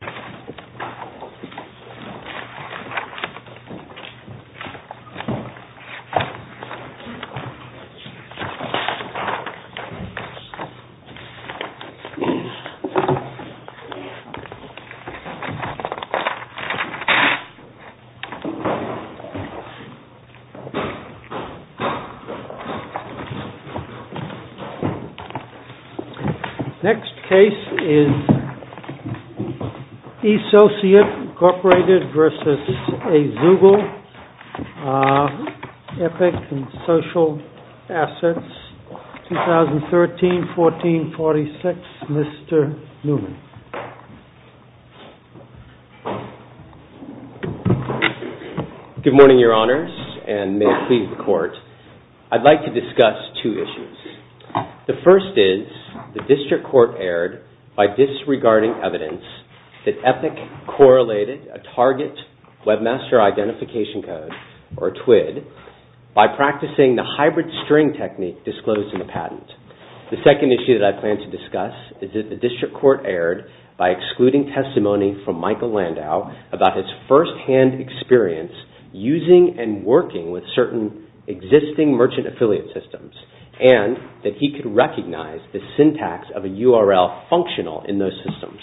www.azoogle.com Next case is Associate, Inc. v. Azoogle, Epic and Social Assets, 2013-14-46, Mr. Newman Good morning, Your Honors, and may it please the Court, I'd like to discuss two issues. The first is the District Court erred by disregarding evidence that Epic correlated a target Webmaster Identification Code, or TWID, by practicing the hybrid string technique disclosed in the patent. The second issue that I plan to discuss is that the District Court erred by excluding testimony from Michael Landau about his firsthand experience using and working with certain existing merchant affiliate systems, and that he could recognize the syntax of a URL functional in those systems.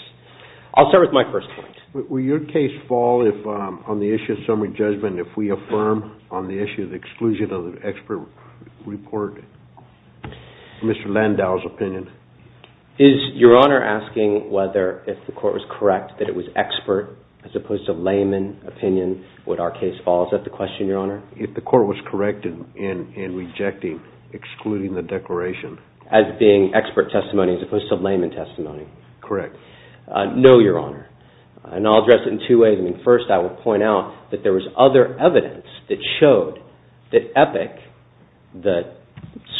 I'll start with my first point. Will your case fall if, on the issue of summary judgment, if we affirm on the issue of the exclusion of the expert report Mr. Landau's opinion? Is Your Honor asking whether, if the Court was correct, that it was expert as opposed to layman opinion, would our case fall? Is that the question, Your Honor? If the Court was correct in rejecting, excluding the declaration. As being expert testimony as opposed to layman testimony? Correct. No, Your Honor. And I'll address it in two ways. First, I will point out that there was other evidence that showed that Epic, the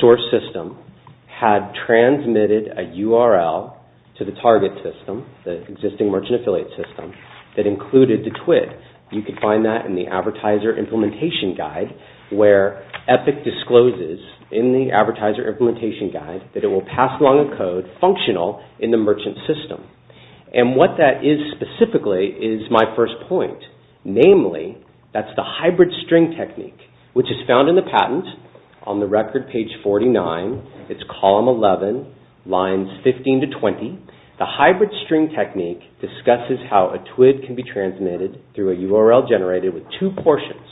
source system, had transmitted a URL to the target system, the existing merchant affiliate system, that included the TWID. You can find that in the Advertiser Implementation Guide where Epic discloses in the Advertiser Implementation Guide that it will pass along a code functional in the merchant system. And what that is specifically is my first point. Namely, that's the hybrid string technique, which is found in the patent on the record page 49. It's column 11, lines 15 to 20. The hybrid string technique discusses how a TWID can be transmitted through a URL generated with two portions.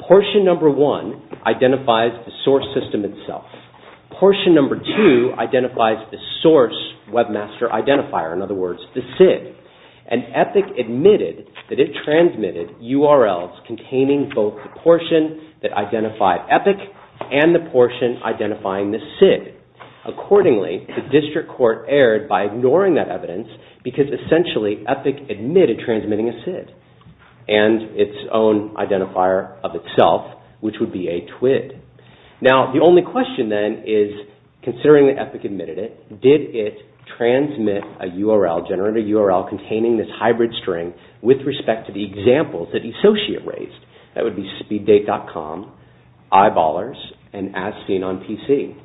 Portion number one identifies the source system itself. Portion number two identifies the source webmaster identifier, in other words, the SID. And Epic admitted that it transmitted URLs containing both the portion that identified Epic and the portion identifying the SID. Accordingly, the district court erred by ignoring that evidence because essentially Epic admitted transmitting a SID and its own identifier of itself, which would be a TWID. Now, the only question then is, considering that Epic admitted it, did it transmit a URL, generate a URL, containing this hybrid string with respect to the examples that the associate raised? That would be speeddate.com, Eyeballers, and As Seen on PC.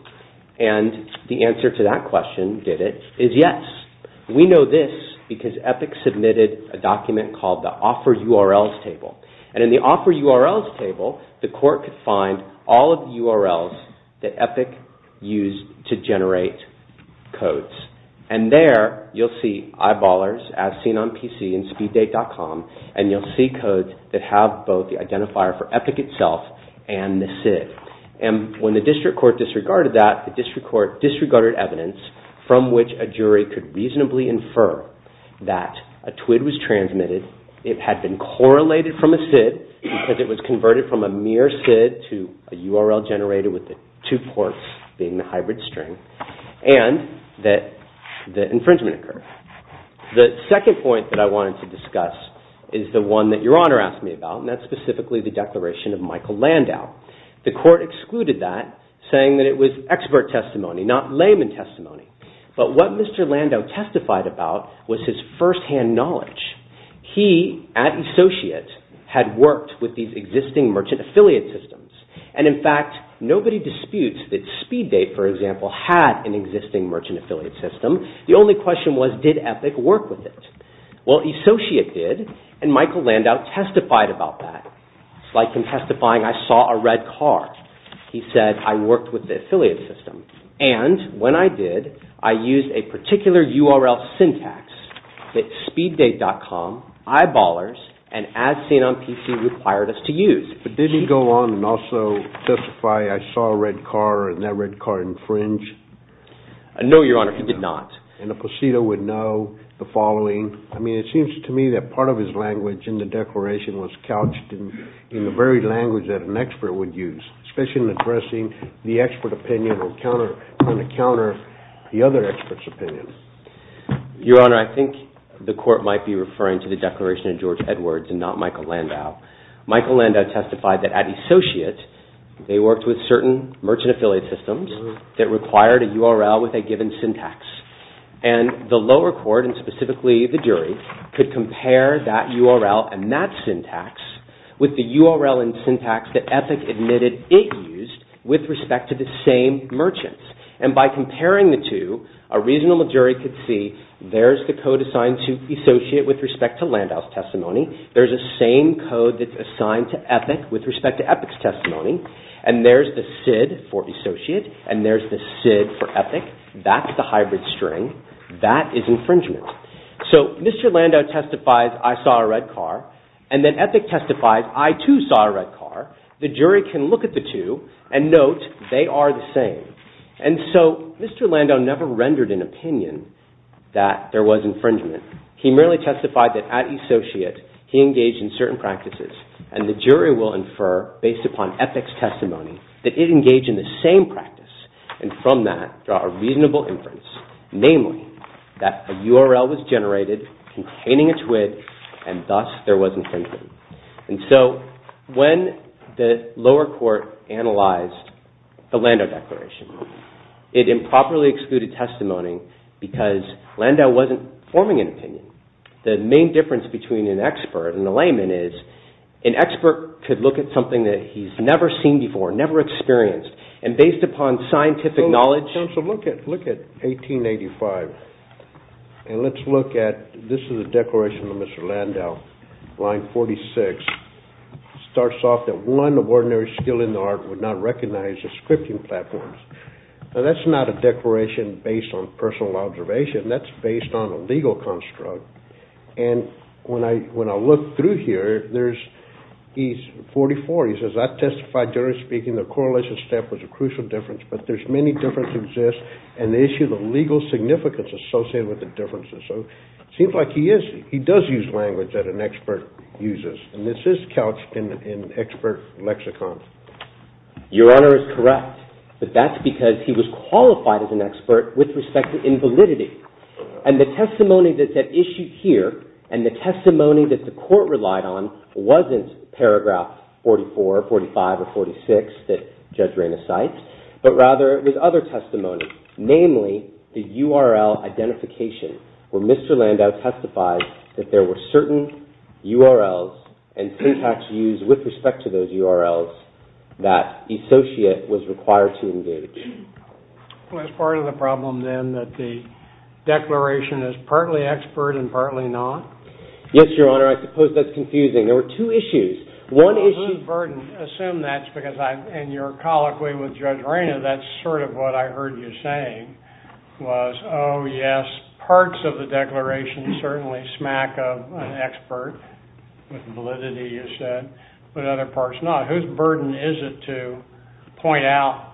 And the answer to that question, did it, is yes. We know this because Epic submitted a document called the Offer URLs Table. And in the Offer URLs Table, the court could find all of the URLs that Epic used to generate codes. And there, you'll see Eyeballers, As Seen on PC, and speeddate.com, and you'll see codes that have both the identifier for Epic itself and the SID. And when the district court disregarded that, the district court disregarded evidence from which a jury could reasonably infer that a TWID was transmitted, it had been correlated from a SID because it was converted from a mere SID to a URL generated with the two ports being the hybrid string, and that the infringement occurred. The second point that I wanted to discuss is the one that Your Honor asked me about, and that's specifically the declaration of Michael Landau. The court excluded that, saying that it was expert testimony, not layman testimony. But what Mr. Landau testified about was his firsthand knowledge. He, at Associate, had worked with these existing merchant affiliate systems. And in fact, nobody disputes that Speeddate, for example, had an existing merchant affiliate system. The only question was, did Epic work with it? Well, Associate did, and Michael Landau testified about that. It's like him testifying, I saw a red car. He said, I worked with the affiliate system. And when I did, I used a particular URL syntax that Speeddate.com, Eyeballers, and As Seen on PC required us to use. But did he go on and also testify, I saw a red car, and that red car infringed? No, Your Honor, he did not. And a placido would know the following. I mean, it seems to me that part of his language in the declaration was couched in the very language that an expert would use, especially in addressing the expert opinion on the counter of the other expert's opinion. Your Honor, I think the court might be referring to the declaration of George Edwards and not Michael Landau. Michael Landau testified that at Associate, they worked with certain merchant affiliate systems that required a URL with a given syntax. And the lower court, and specifically the jury, could compare that URL and that syntax with the URL and syntax that Epic admitted it used with respect to the same merchants. And by comparing the two, a reasonable jury could see there's the code assigned to Associate with respect to Landau's testimony, there's the same code that's assigned to Epic with respect to Epic's testimony, and there's the SID for Associate, and there's the SID for Epic. That's the hybrid string. That is infringement. So Mr. Landau testifies, I saw a red car, and then Epic testifies, I too saw a red car. The jury can look at the two and note they are the same. And so Mr. Landau never rendered an opinion that there was infringement. He merely testified that at Associate, he engaged in certain practices, and the jury will infer, based upon Epic's testimony, that it engaged in the same practice. And from that, draw a reasonable inference. Namely, that a URL was generated containing a twig, and thus there was infringement. And so when the lower court analyzed the Landau declaration, it improperly excluded testimony because Landau wasn't forming an opinion. The main difference between an expert and a layman is an expert could look at something that he's never seen before, never experienced, and based upon scientific knowledge. So look at 1885, and let's look at this is a declaration of Mr. Landau, line 46. It starts off that one of ordinary skill in the art would not recognize the scripting platforms. Now that's not a declaration based on personal observation. That's based on a legal construct. And when I look through here, he's 44. He says, I testify, generally speaking, the correlation step was a crucial difference, but there's many differences exist, and the issue of the legal significance associated with the differences. So it seems like he does use language that an expert uses, and this is couched in expert lexicon. Your Honor is correct, but that's because he was qualified as an expert with respect to invalidity. And the testimony that's at issue here, and the testimony that the court relied on, wasn't paragraph 44, 45, or 46 that Judge Raina cites, but rather it was other testimony, namely the URL identification where Mr. Landau testified that there were certain URLs and syntax used with respect to those URLs that the associate was required to engage. Well, is part of the problem then that the declaration is partly expert and partly not? Yes, Your Honor. I suppose that's confusing. There were two issues. Well, whose burden, assume that's because I'm, and you're colloquy with Judge Raina, that's sort of what I heard you saying was, oh, yes, parts of the declaration certainly smack of an expert, with validity you said, but other parts not. Whose burden is it to point out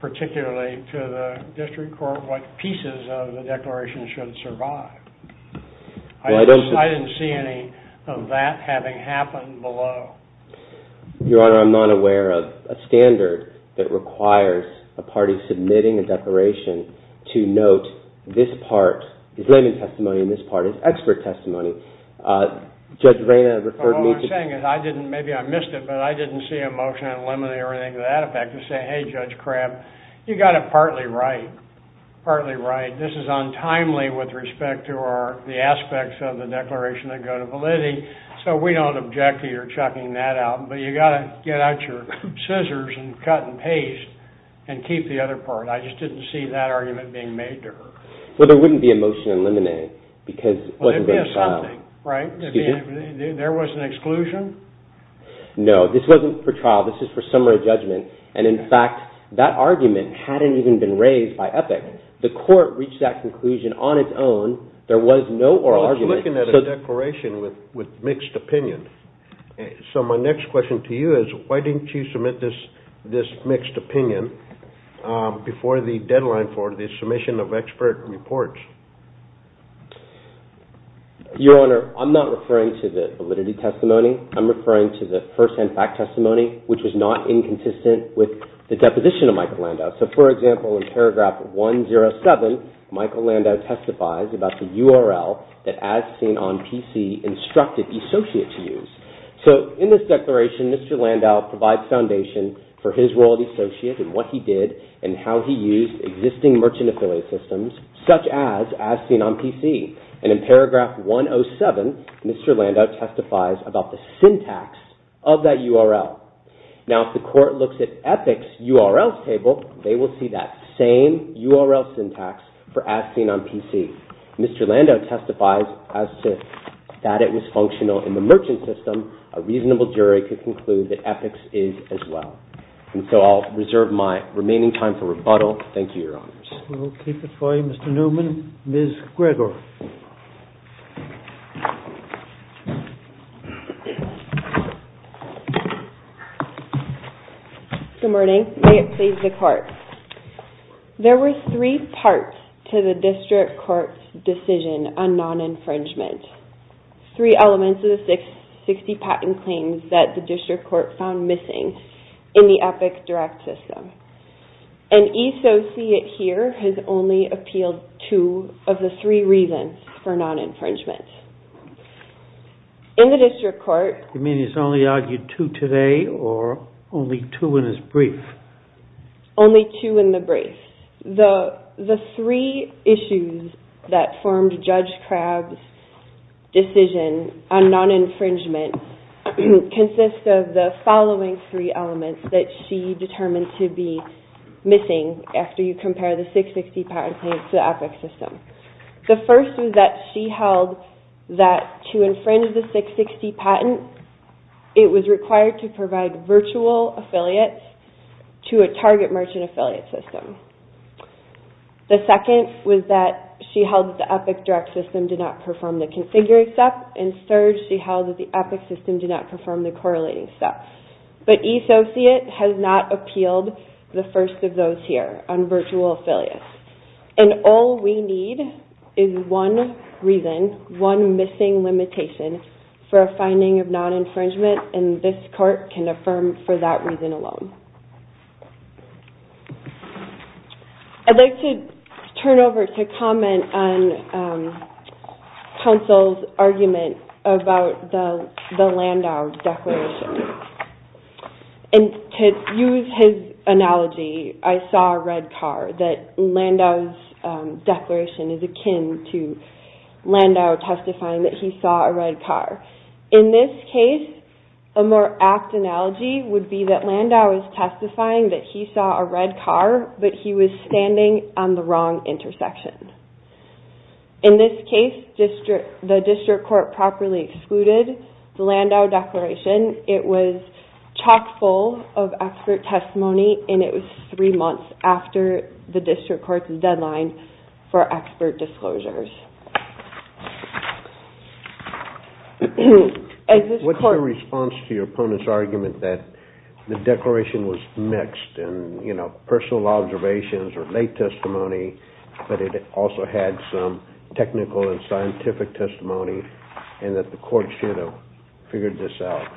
particularly to the district court what pieces of the declaration should survive? I didn't see any of that having happened below. Your Honor, I'm not aware of a standard that requires a party submitting a declaration to note this part is layman testimony and this part is expert testimony. So, Judge Raina referred me to... What I'm saying is I didn't, maybe I missed it, but I didn't see a motion to eliminate everything to that effect to say, hey, Judge Crabb, you got it partly right, partly right. This is untimely with respect to the aspects of the declaration that go to validity, so we don't object to your chucking that out, but you got to get out your scissors and cut and paste and keep the other part. I just didn't see that argument being made to her. Well, there wouldn't be a motion to eliminate because it wasn't being filed. Well, there'd be a something, right? There was an exclusion? No, this wasn't for trial. This is for summary judgment. And, in fact, that argument hadn't even been raised by EPIC. The court reached that conclusion on its own. There was no oral argument. Well, it's looking at a declaration with mixed opinion. So my next question to you is why didn't you submit this mixed opinion before the deadline for the submission of expert reports? Your Honor, I'm not referring to the validity testimony. I'm referring to the firsthand fact testimony, which was not inconsistent with the deposition of Michael Landau. So, for example, in paragraph 107, Michael Landau testifies about the URL that, as seen on PC, instructed the associate to use. So, in this declaration, Mr. Landau provides foundation for his role as associate and what he did and how he used existing merchant affiliate systems, such as as seen on PC. And in paragraph 107, Mr. Landau testifies about the syntax of that URL. Now, if the court looks at EPIC's URL table, they will see that same URL syntax for as seen on PC. Mr. Landau testifies as to that it was functional in the merchant system. A reasonable jury could conclude that EPIC's is as well. And so I'll reserve my remaining time for rebuttal. Thank you, Your Honors. We will keep it for you, Mr. Newman. Ms. Gregor. Good morning. May it please the Court. There were three parts to the district court's decision on non-infringement. Three elements of the 60 patent claims that the district court found missing in the EPIC direct system. An associate here has only appealed two of the three reasons for non-infringement. In the district court... You mean he's only argued two today or only two in his brief? Only two in the brief. The three issues that formed Judge Crabb's decision on non-infringement consist of the following three elements that she determined to be missing after you compare the 660 patent claims to the EPIC system. The first is that she held that to infringe the 660 patent, it was required to provide virtual affiliates to a target merchant affiliate system. The second was that she held that the EPIC direct system did not perform the configuring step. And third, she held that the EPIC system did not perform the correlating step. But E-associate has not appealed the first of those here on virtual affiliates. And all we need is one reason, one missing limitation for a finding of non-infringement and this court can affirm for that reason alone. I'd like to turn over to comment on counsel's argument about the Landau Declaration. And to use his analogy, I saw a red car. That Landau's declaration is akin to Landau testifying that he saw a red car. In this case, a more apt analogy would be that Landau is testifying that he saw a red car but he was standing on the wrong intersection. In this case, the district court properly excluded the Landau Declaration. It was chock full of expert testimony and it was three months after the district court's deadline for expert disclosures. What's your response to your opponent's argument that the declaration was mixed and personal observations or late testimony but it also had some technical and scientific testimony and that the court should have figured this out?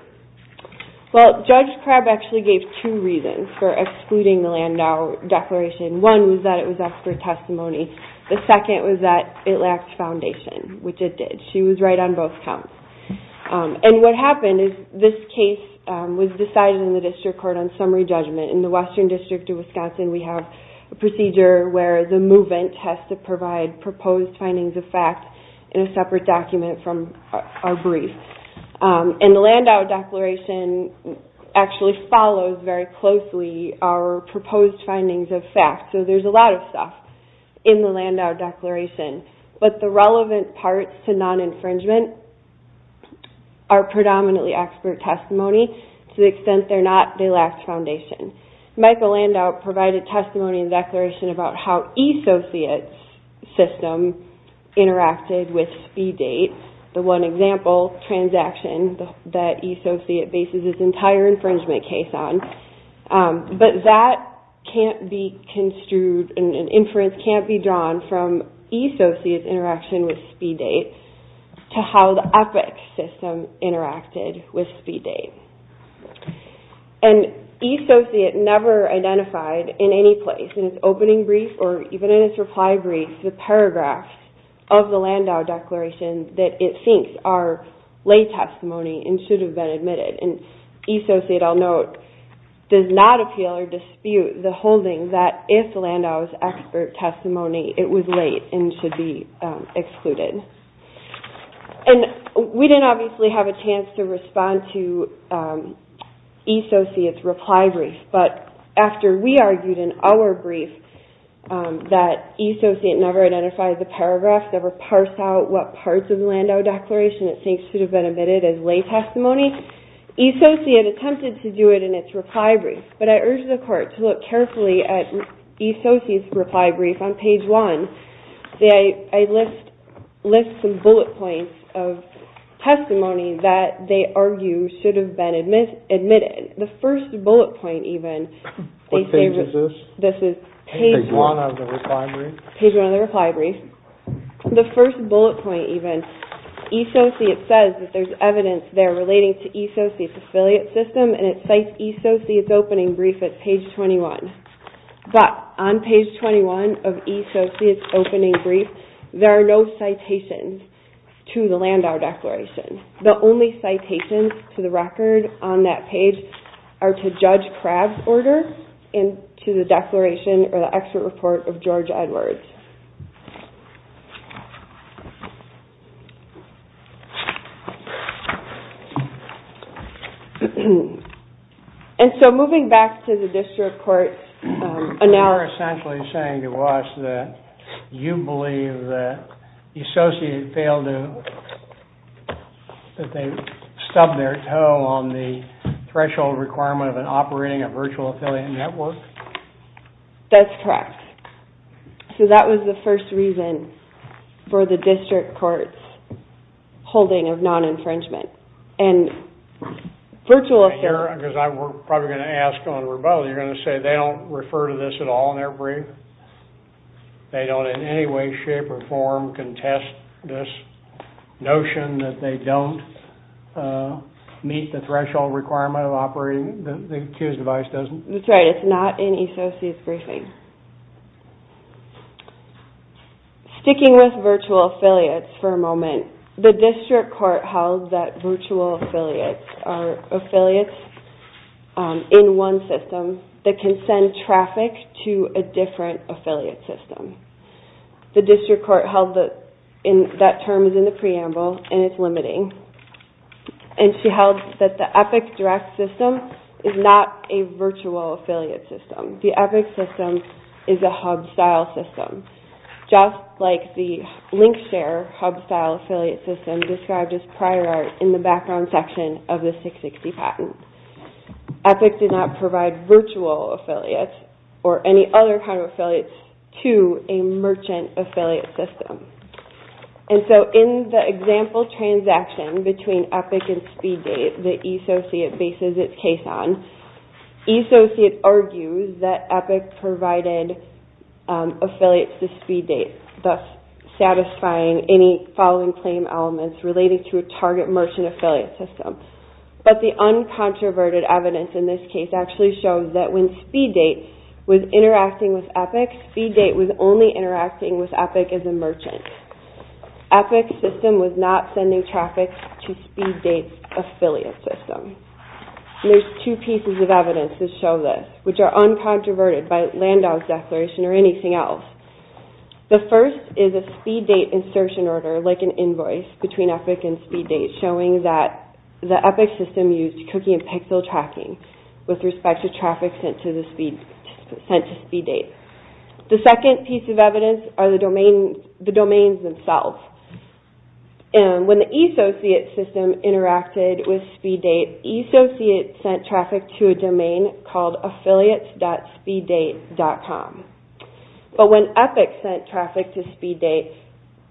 Well, Judge Crabb actually gave two reasons for excluding the Landau Declaration. One was that it was expert testimony. The second was that it lacked foundation, which it did. She was right on both counts. And what happened is this case was decided in the district court on summary judgment. In the Western District of Wisconsin, we have a procedure where the movement has to provide proposed findings of fact in a separate document from our brief. And the Landau Declaration actually follows very closely our proposed findings of fact. So there's a lot of stuff in the Landau Declaration. But the relevant parts to non-infringement are predominantly expert testimony to the extent they're not, they lack foundation. Michael Landau provided testimony in the Declaration about how E-Societ's system interacted with SpeedDate, the one example transaction that E-Societ bases its entire infringement case on. But that can't be construed and inference can't be drawn from E-Societ's interaction with SpeedDate to how the EPICS system interacted with SpeedDate. And E-Societ never identified in any place, in its opening brief or even in its reply brief, the paragraph of the Landau Declaration that it thinks are late testimony and should have been admitted. And E-Societ, I'll note, does not appeal or dispute the holding that if the Landau is expert testimony, it was late and should be excluded. And we didn't obviously have a chance to respond to E-Societ's reply brief. But after we argued in our brief that E-Societ never identified the paragraph, never parsed out what parts of the Landau Declaration it thinks should have been admitted as late testimony, E-Societ attempted to do it in its reply brief. But I urge the Court to look carefully at E-Societ's reply brief on page 1. I list some bullet points of testimony that they argue should have been admitted. The first bullet point, even, they say... What page is this? This is page 1 of the reply brief. Page 1 of the reply brief. The first bullet point, even, E-Societ says that there's evidence there relating to E-Societ's affiliate system, and it cites E-Societ's opening brief at page 21. But on page 21 of E-Societ's opening brief, there are no citations to the Landau Declaration. The only citations to the record on that page are to Judge Crabb's order and to the declaration or the excerpt report of George Edwards. And so, moving back to the district court... You're essentially saying to us that you believe that E-Societ failed to... that they stubbed their toe on the threshold requirement of an operating a virtual affiliate network? So that was the first bullet point. That was the first reason for the district court's holding of non-infringement. And virtual affiliates... Because I'm probably going to ask on rebuttal, you're going to say they don't refer to this at all in their brief? They don't in any way, shape, or form contest this notion that they don't meet the threshold requirement of operating? The accused device doesn't? That's right. It's not in E-Societ's briefing. Sticking with virtual affiliates for a moment, the district court held that virtual affiliates are affiliates in one system that can send traffic to a different affiliate system. The district court held that that term is in the preamble and it's limiting. And she held that the EPIC direct system is not a virtual affiliate system. The EPIC system is a hub-style system, just like the LinkShare hub-style affiliate system described as prior art in the background section of the 660 patent. EPIC did not provide virtual affiliates or any other kind of affiliates to a merchant affiliate system. And so in the example transaction between EPIC and SpeedDate that E-Societ bases its case on, E-Societ argues that EPIC provided affiliates to SpeedDate, thus satisfying any following claim elements related to a target merchant affiliate system. But the uncontroverted evidence in this case actually shows that when SpeedDate was interacting with EPIC, SpeedDate was only interacting with EPIC as a merchant. EPIC's system was not sending traffic to SpeedDate's affiliate system. There's two pieces of evidence that show this, which are uncontroverted by Landau's declaration or anything else. The first is a SpeedDate insertion order, like an invoice between EPIC and SpeedDate, showing that the EPIC system used cookie and pixel tracking with respect to traffic sent to SpeedDate. The second piece of evidence are the domains themselves. When the E-Societ system interacted with SpeedDate, E-Societ sent traffic to a domain called affiliates.speeddate.com. But when EPIC sent traffic to SpeedDate,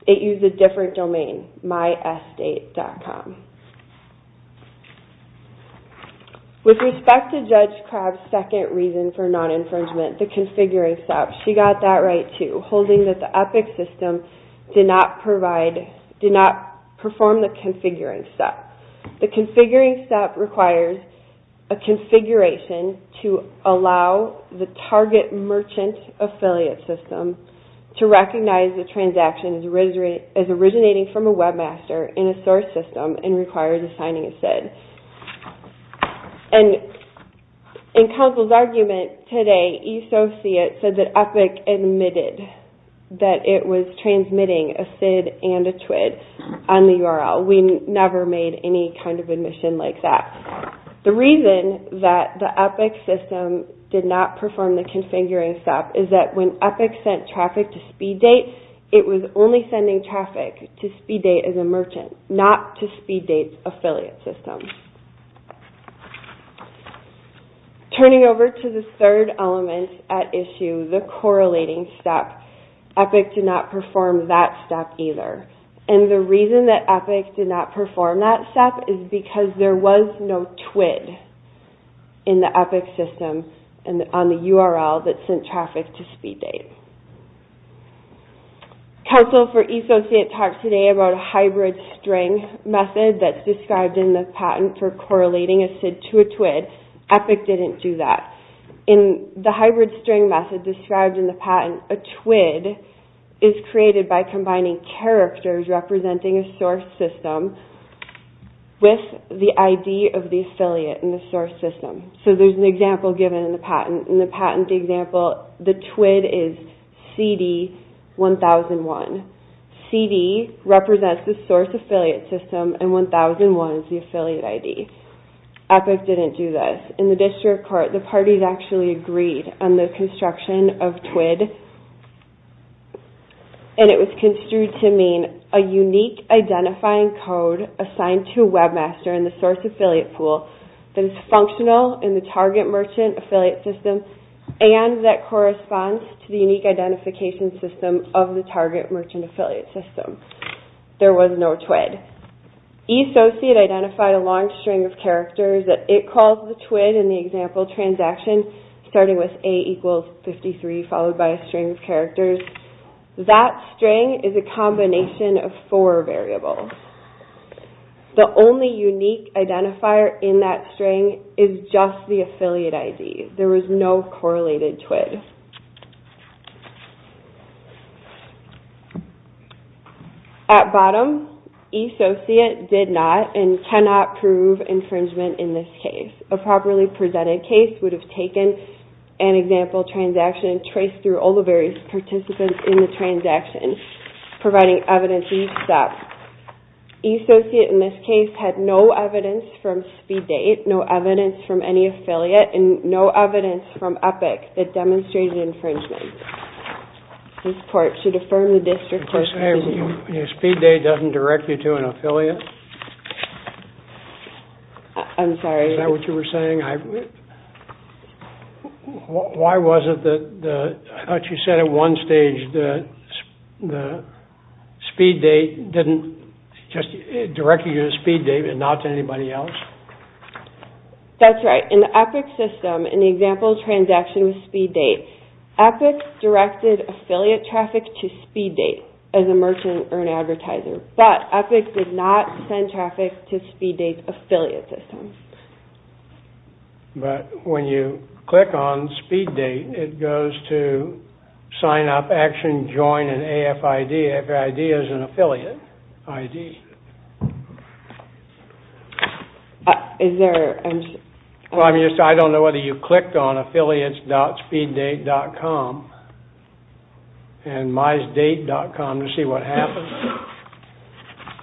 it used a different domain, mysdate.com. With respect to Judge Crabb's second reason for non-infringement, the configuring step, she got that right too, holding that the EPIC system did not perform the configuring step. The configuring step requires a configuration to allow the target merchant affiliate system to recognize the transaction as originating from a webmaster in a source system and requires assigning a SID. In Council's argument today, E-Societ said that EPIC admitted that it was transmitting a SID and a TWID on the URL. We never made any kind of admission like that. The reason that the EPIC system did not perform the configuring step is that when EPIC sent traffic to SpeedDate, it was only sending traffic to SpeedDate as a merchant, not to SpeedDate's affiliate system. Turning over to the third element at issue, the correlating step, EPIC did not perform that step either. And the reason that EPIC did not perform that step is because there was no TWID in the EPIC system on the URL that sent traffic to SpeedDate. Council for E-Societ talked today about a hybrid string method that's described in the patent for correlating a SID to a TWID. EPIC didn't do that. In the hybrid string method described in the patent, a TWID is created by combining characters representing a source system with the ID of the affiliate in the source system. So there's an example given in the patent. In the patent example, the TWID is CD1001. CD represents the source affiliate system, and 1001 is the affiliate ID. EPIC didn't do this. In the district court, the parties actually agreed on the construction of TWID, and it was construed to mean a unique identifying code assigned to Webmaster in the source affiliate pool that is functional in the target merchant affiliate system and that corresponds to the unique identification system of the target merchant affiliate system. There was no TWID. E-Societ identified a long string of characters that it calls the TWID in the example transaction starting with A equals 53 followed by a string of characters. That string is a combination of four variables. The only unique identifier in that string is just the affiliate ID. There was no correlated TWID. At bottom, E-Societ did not and cannot prove infringement in this case. A properly presented case would have taken an example transaction and traced through all the various participants in the transaction, providing evidence to use that. E-Societ in this case had no evidence from Speed Date, no evidence from any affiliate, and no evidence from EPIC that demonstrated infringement. This court should affirm the district court's position. The Speed Date doesn't direct you to an affiliate? I'm sorry. Is that what you were saying? Why was it that you said at one stage that the Speed Date didn't just direct you to Speed Date and not to anybody else? That's right. In the EPIC system, in the example transaction with Speed Date, EPIC directed affiliate traffic to Speed Date as a merchant or an advertiser, but EPIC did not send traffic to Speed Date's affiliate system. But when you click on Speed Date, it goes to sign up, action, join, and AFID. AFID is an affiliate ID. Is there... I don't know whether you clicked on affiliates.speeddate.com and mysdate.com to see what happened?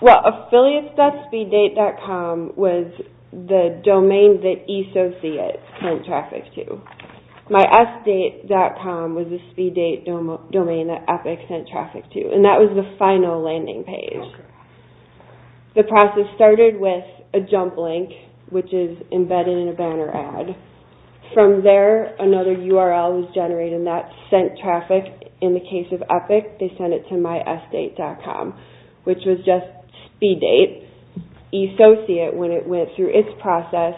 Well, affiliates.speeddate.com was the domain that E-Societ sent traffic to. mysdate.com was the Speed Date domain that EPIC sent traffic to, and that was the final landing page. The process started with a jump link, which is embedded in a banner ad. From there, another URL was generated, and that sent traffic in the case of EPIC. They sent it to mysdate.com, which was just Speed Date. E-Societ, when it went through its process,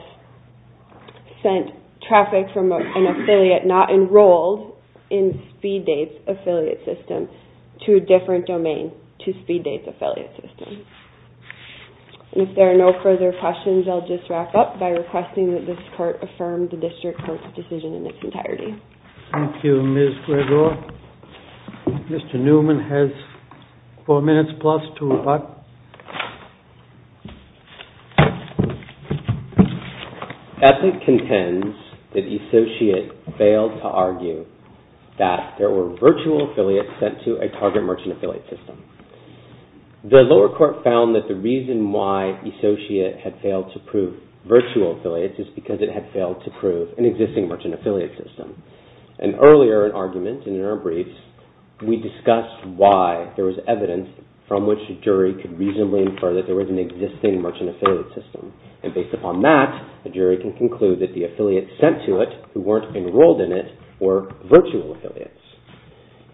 sent traffic from an affiliate not enrolled in Speed Date's affiliate system to a different domain, to Speed Date's affiliate system. And if there are no further questions, I'll just wrap up by requesting that this court affirm the district court's decision in its entirety. Thank you, Ms. Gregoire. Mr. Newman has four minutes plus to reply. EPIC contends that E-Societ failed to argue that there were virtual affiliates sent to a target merchant affiliate system. The lower court found that the reason why E-Societ had failed to prove virtual affiliates is because it had failed to prove an existing merchant affiliate system. And earlier in argument, in our briefs, we discussed why there was evidence from which a jury could reasonably infer that there was an existing merchant affiliate system. And based upon that, the jury can conclude that the affiliates sent to it who weren't enrolled in it were virtual affiliates.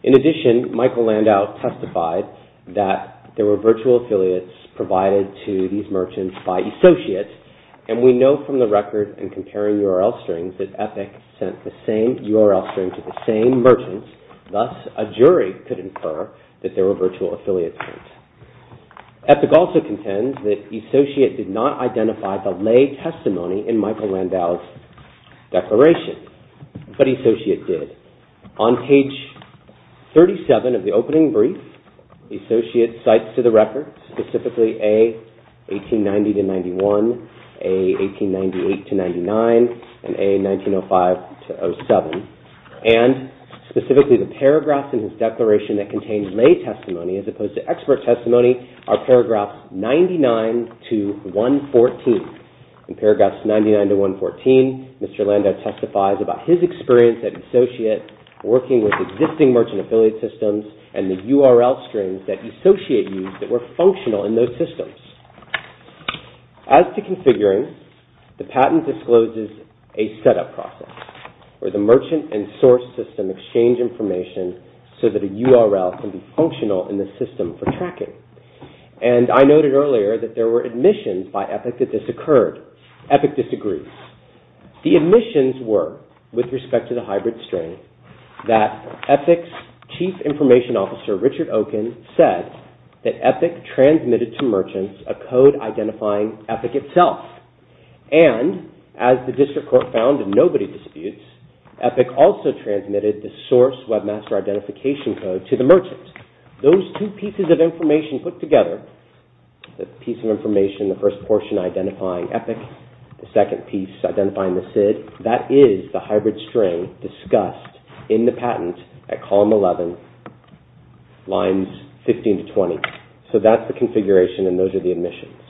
In addition, Michael Landau testified that there were virtual affiliates provided to these merchants by E-Societ, and we know from the record in comparing URL strings that EPIC sent the same URL string to the same merchants. Thus, a jury could infer that there were virtual affiliate strings. EPIC also contends that E-Societ did not identify the lay testimony in Michael Landau's declaration, but E-Societ did. On page 37 of the opening brief, E-Societ cites to the record specifically A1890-91, A1898-99, and A1905-07. And specifically, the paragraphs in his declaration that contain lay testimony as opposed to expert testimony are paragraphs 99-114. In paragraphs 99-114, Mr. Landau testifies about his experience at E-Societ working with existing merchant affiliate systems and the URL strings that E-Societ used that were functional in those systems. As to configuring, the patent discloses a setup process where the merchant and source system exchange information so that a URL can be functional in the system for tracking. And I noted earlier that there were admissions by EPIC that this occurred. EPIC disagrees. The admissions were, with respect to the hybrid string, that EPIC's chief information officer, Richard Okun, said that EPIC transmitted to merchants a code identifying EPIC itself. And, as the district court found in nobody disputes, EPIC also transmitted the source webmaster identification code to the merchants. Those two pieces of information put together, the piece of information, the first portion identifying EPIC, the second piece identifying the SID, that is the hybrid string discussed in the patent at column 11, lines 15-20. So that's the configuration and those are the admissions.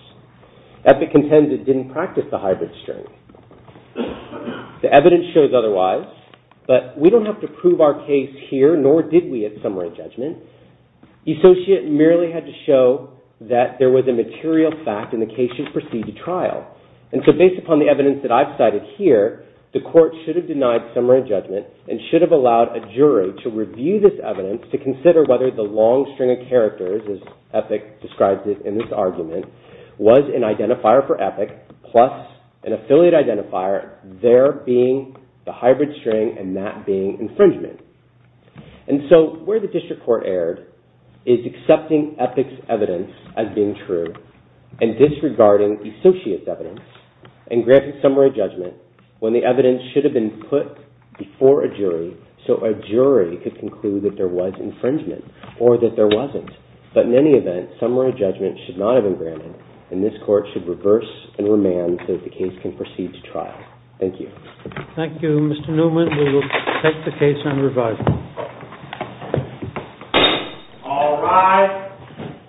EPIC contended it didn't practice the hybrid string. The evidence shows otherwise, but we don't have to prove our case here, nor did we at summary judgment. E-Societ merely had to show that there was a material fact and the case should proceed to trial. And so based upon the evidence that I've cited here, the court should have denied summary judgment and should have allowed a jury to review this evidence to consider whether the long string of characters, as EPIC describes it in this argument, was an identifier for EPIC plus an affiliate identifier, there being the hybrid string and that being infringement. And so where the district court erred is accepting EPIC's evidence as being true. And disregarding E-Societ's evidence and granting summary judgment when the evidence should have been put before a jury so a jury could conclude that there was infringement or that there wasn't. But in any event, summary judgment should not have been granted and this court should reverse and remand so that the case can proceed to trial. Thank you. Thank you, Mr. Newman. We will take the case on revival. All rise.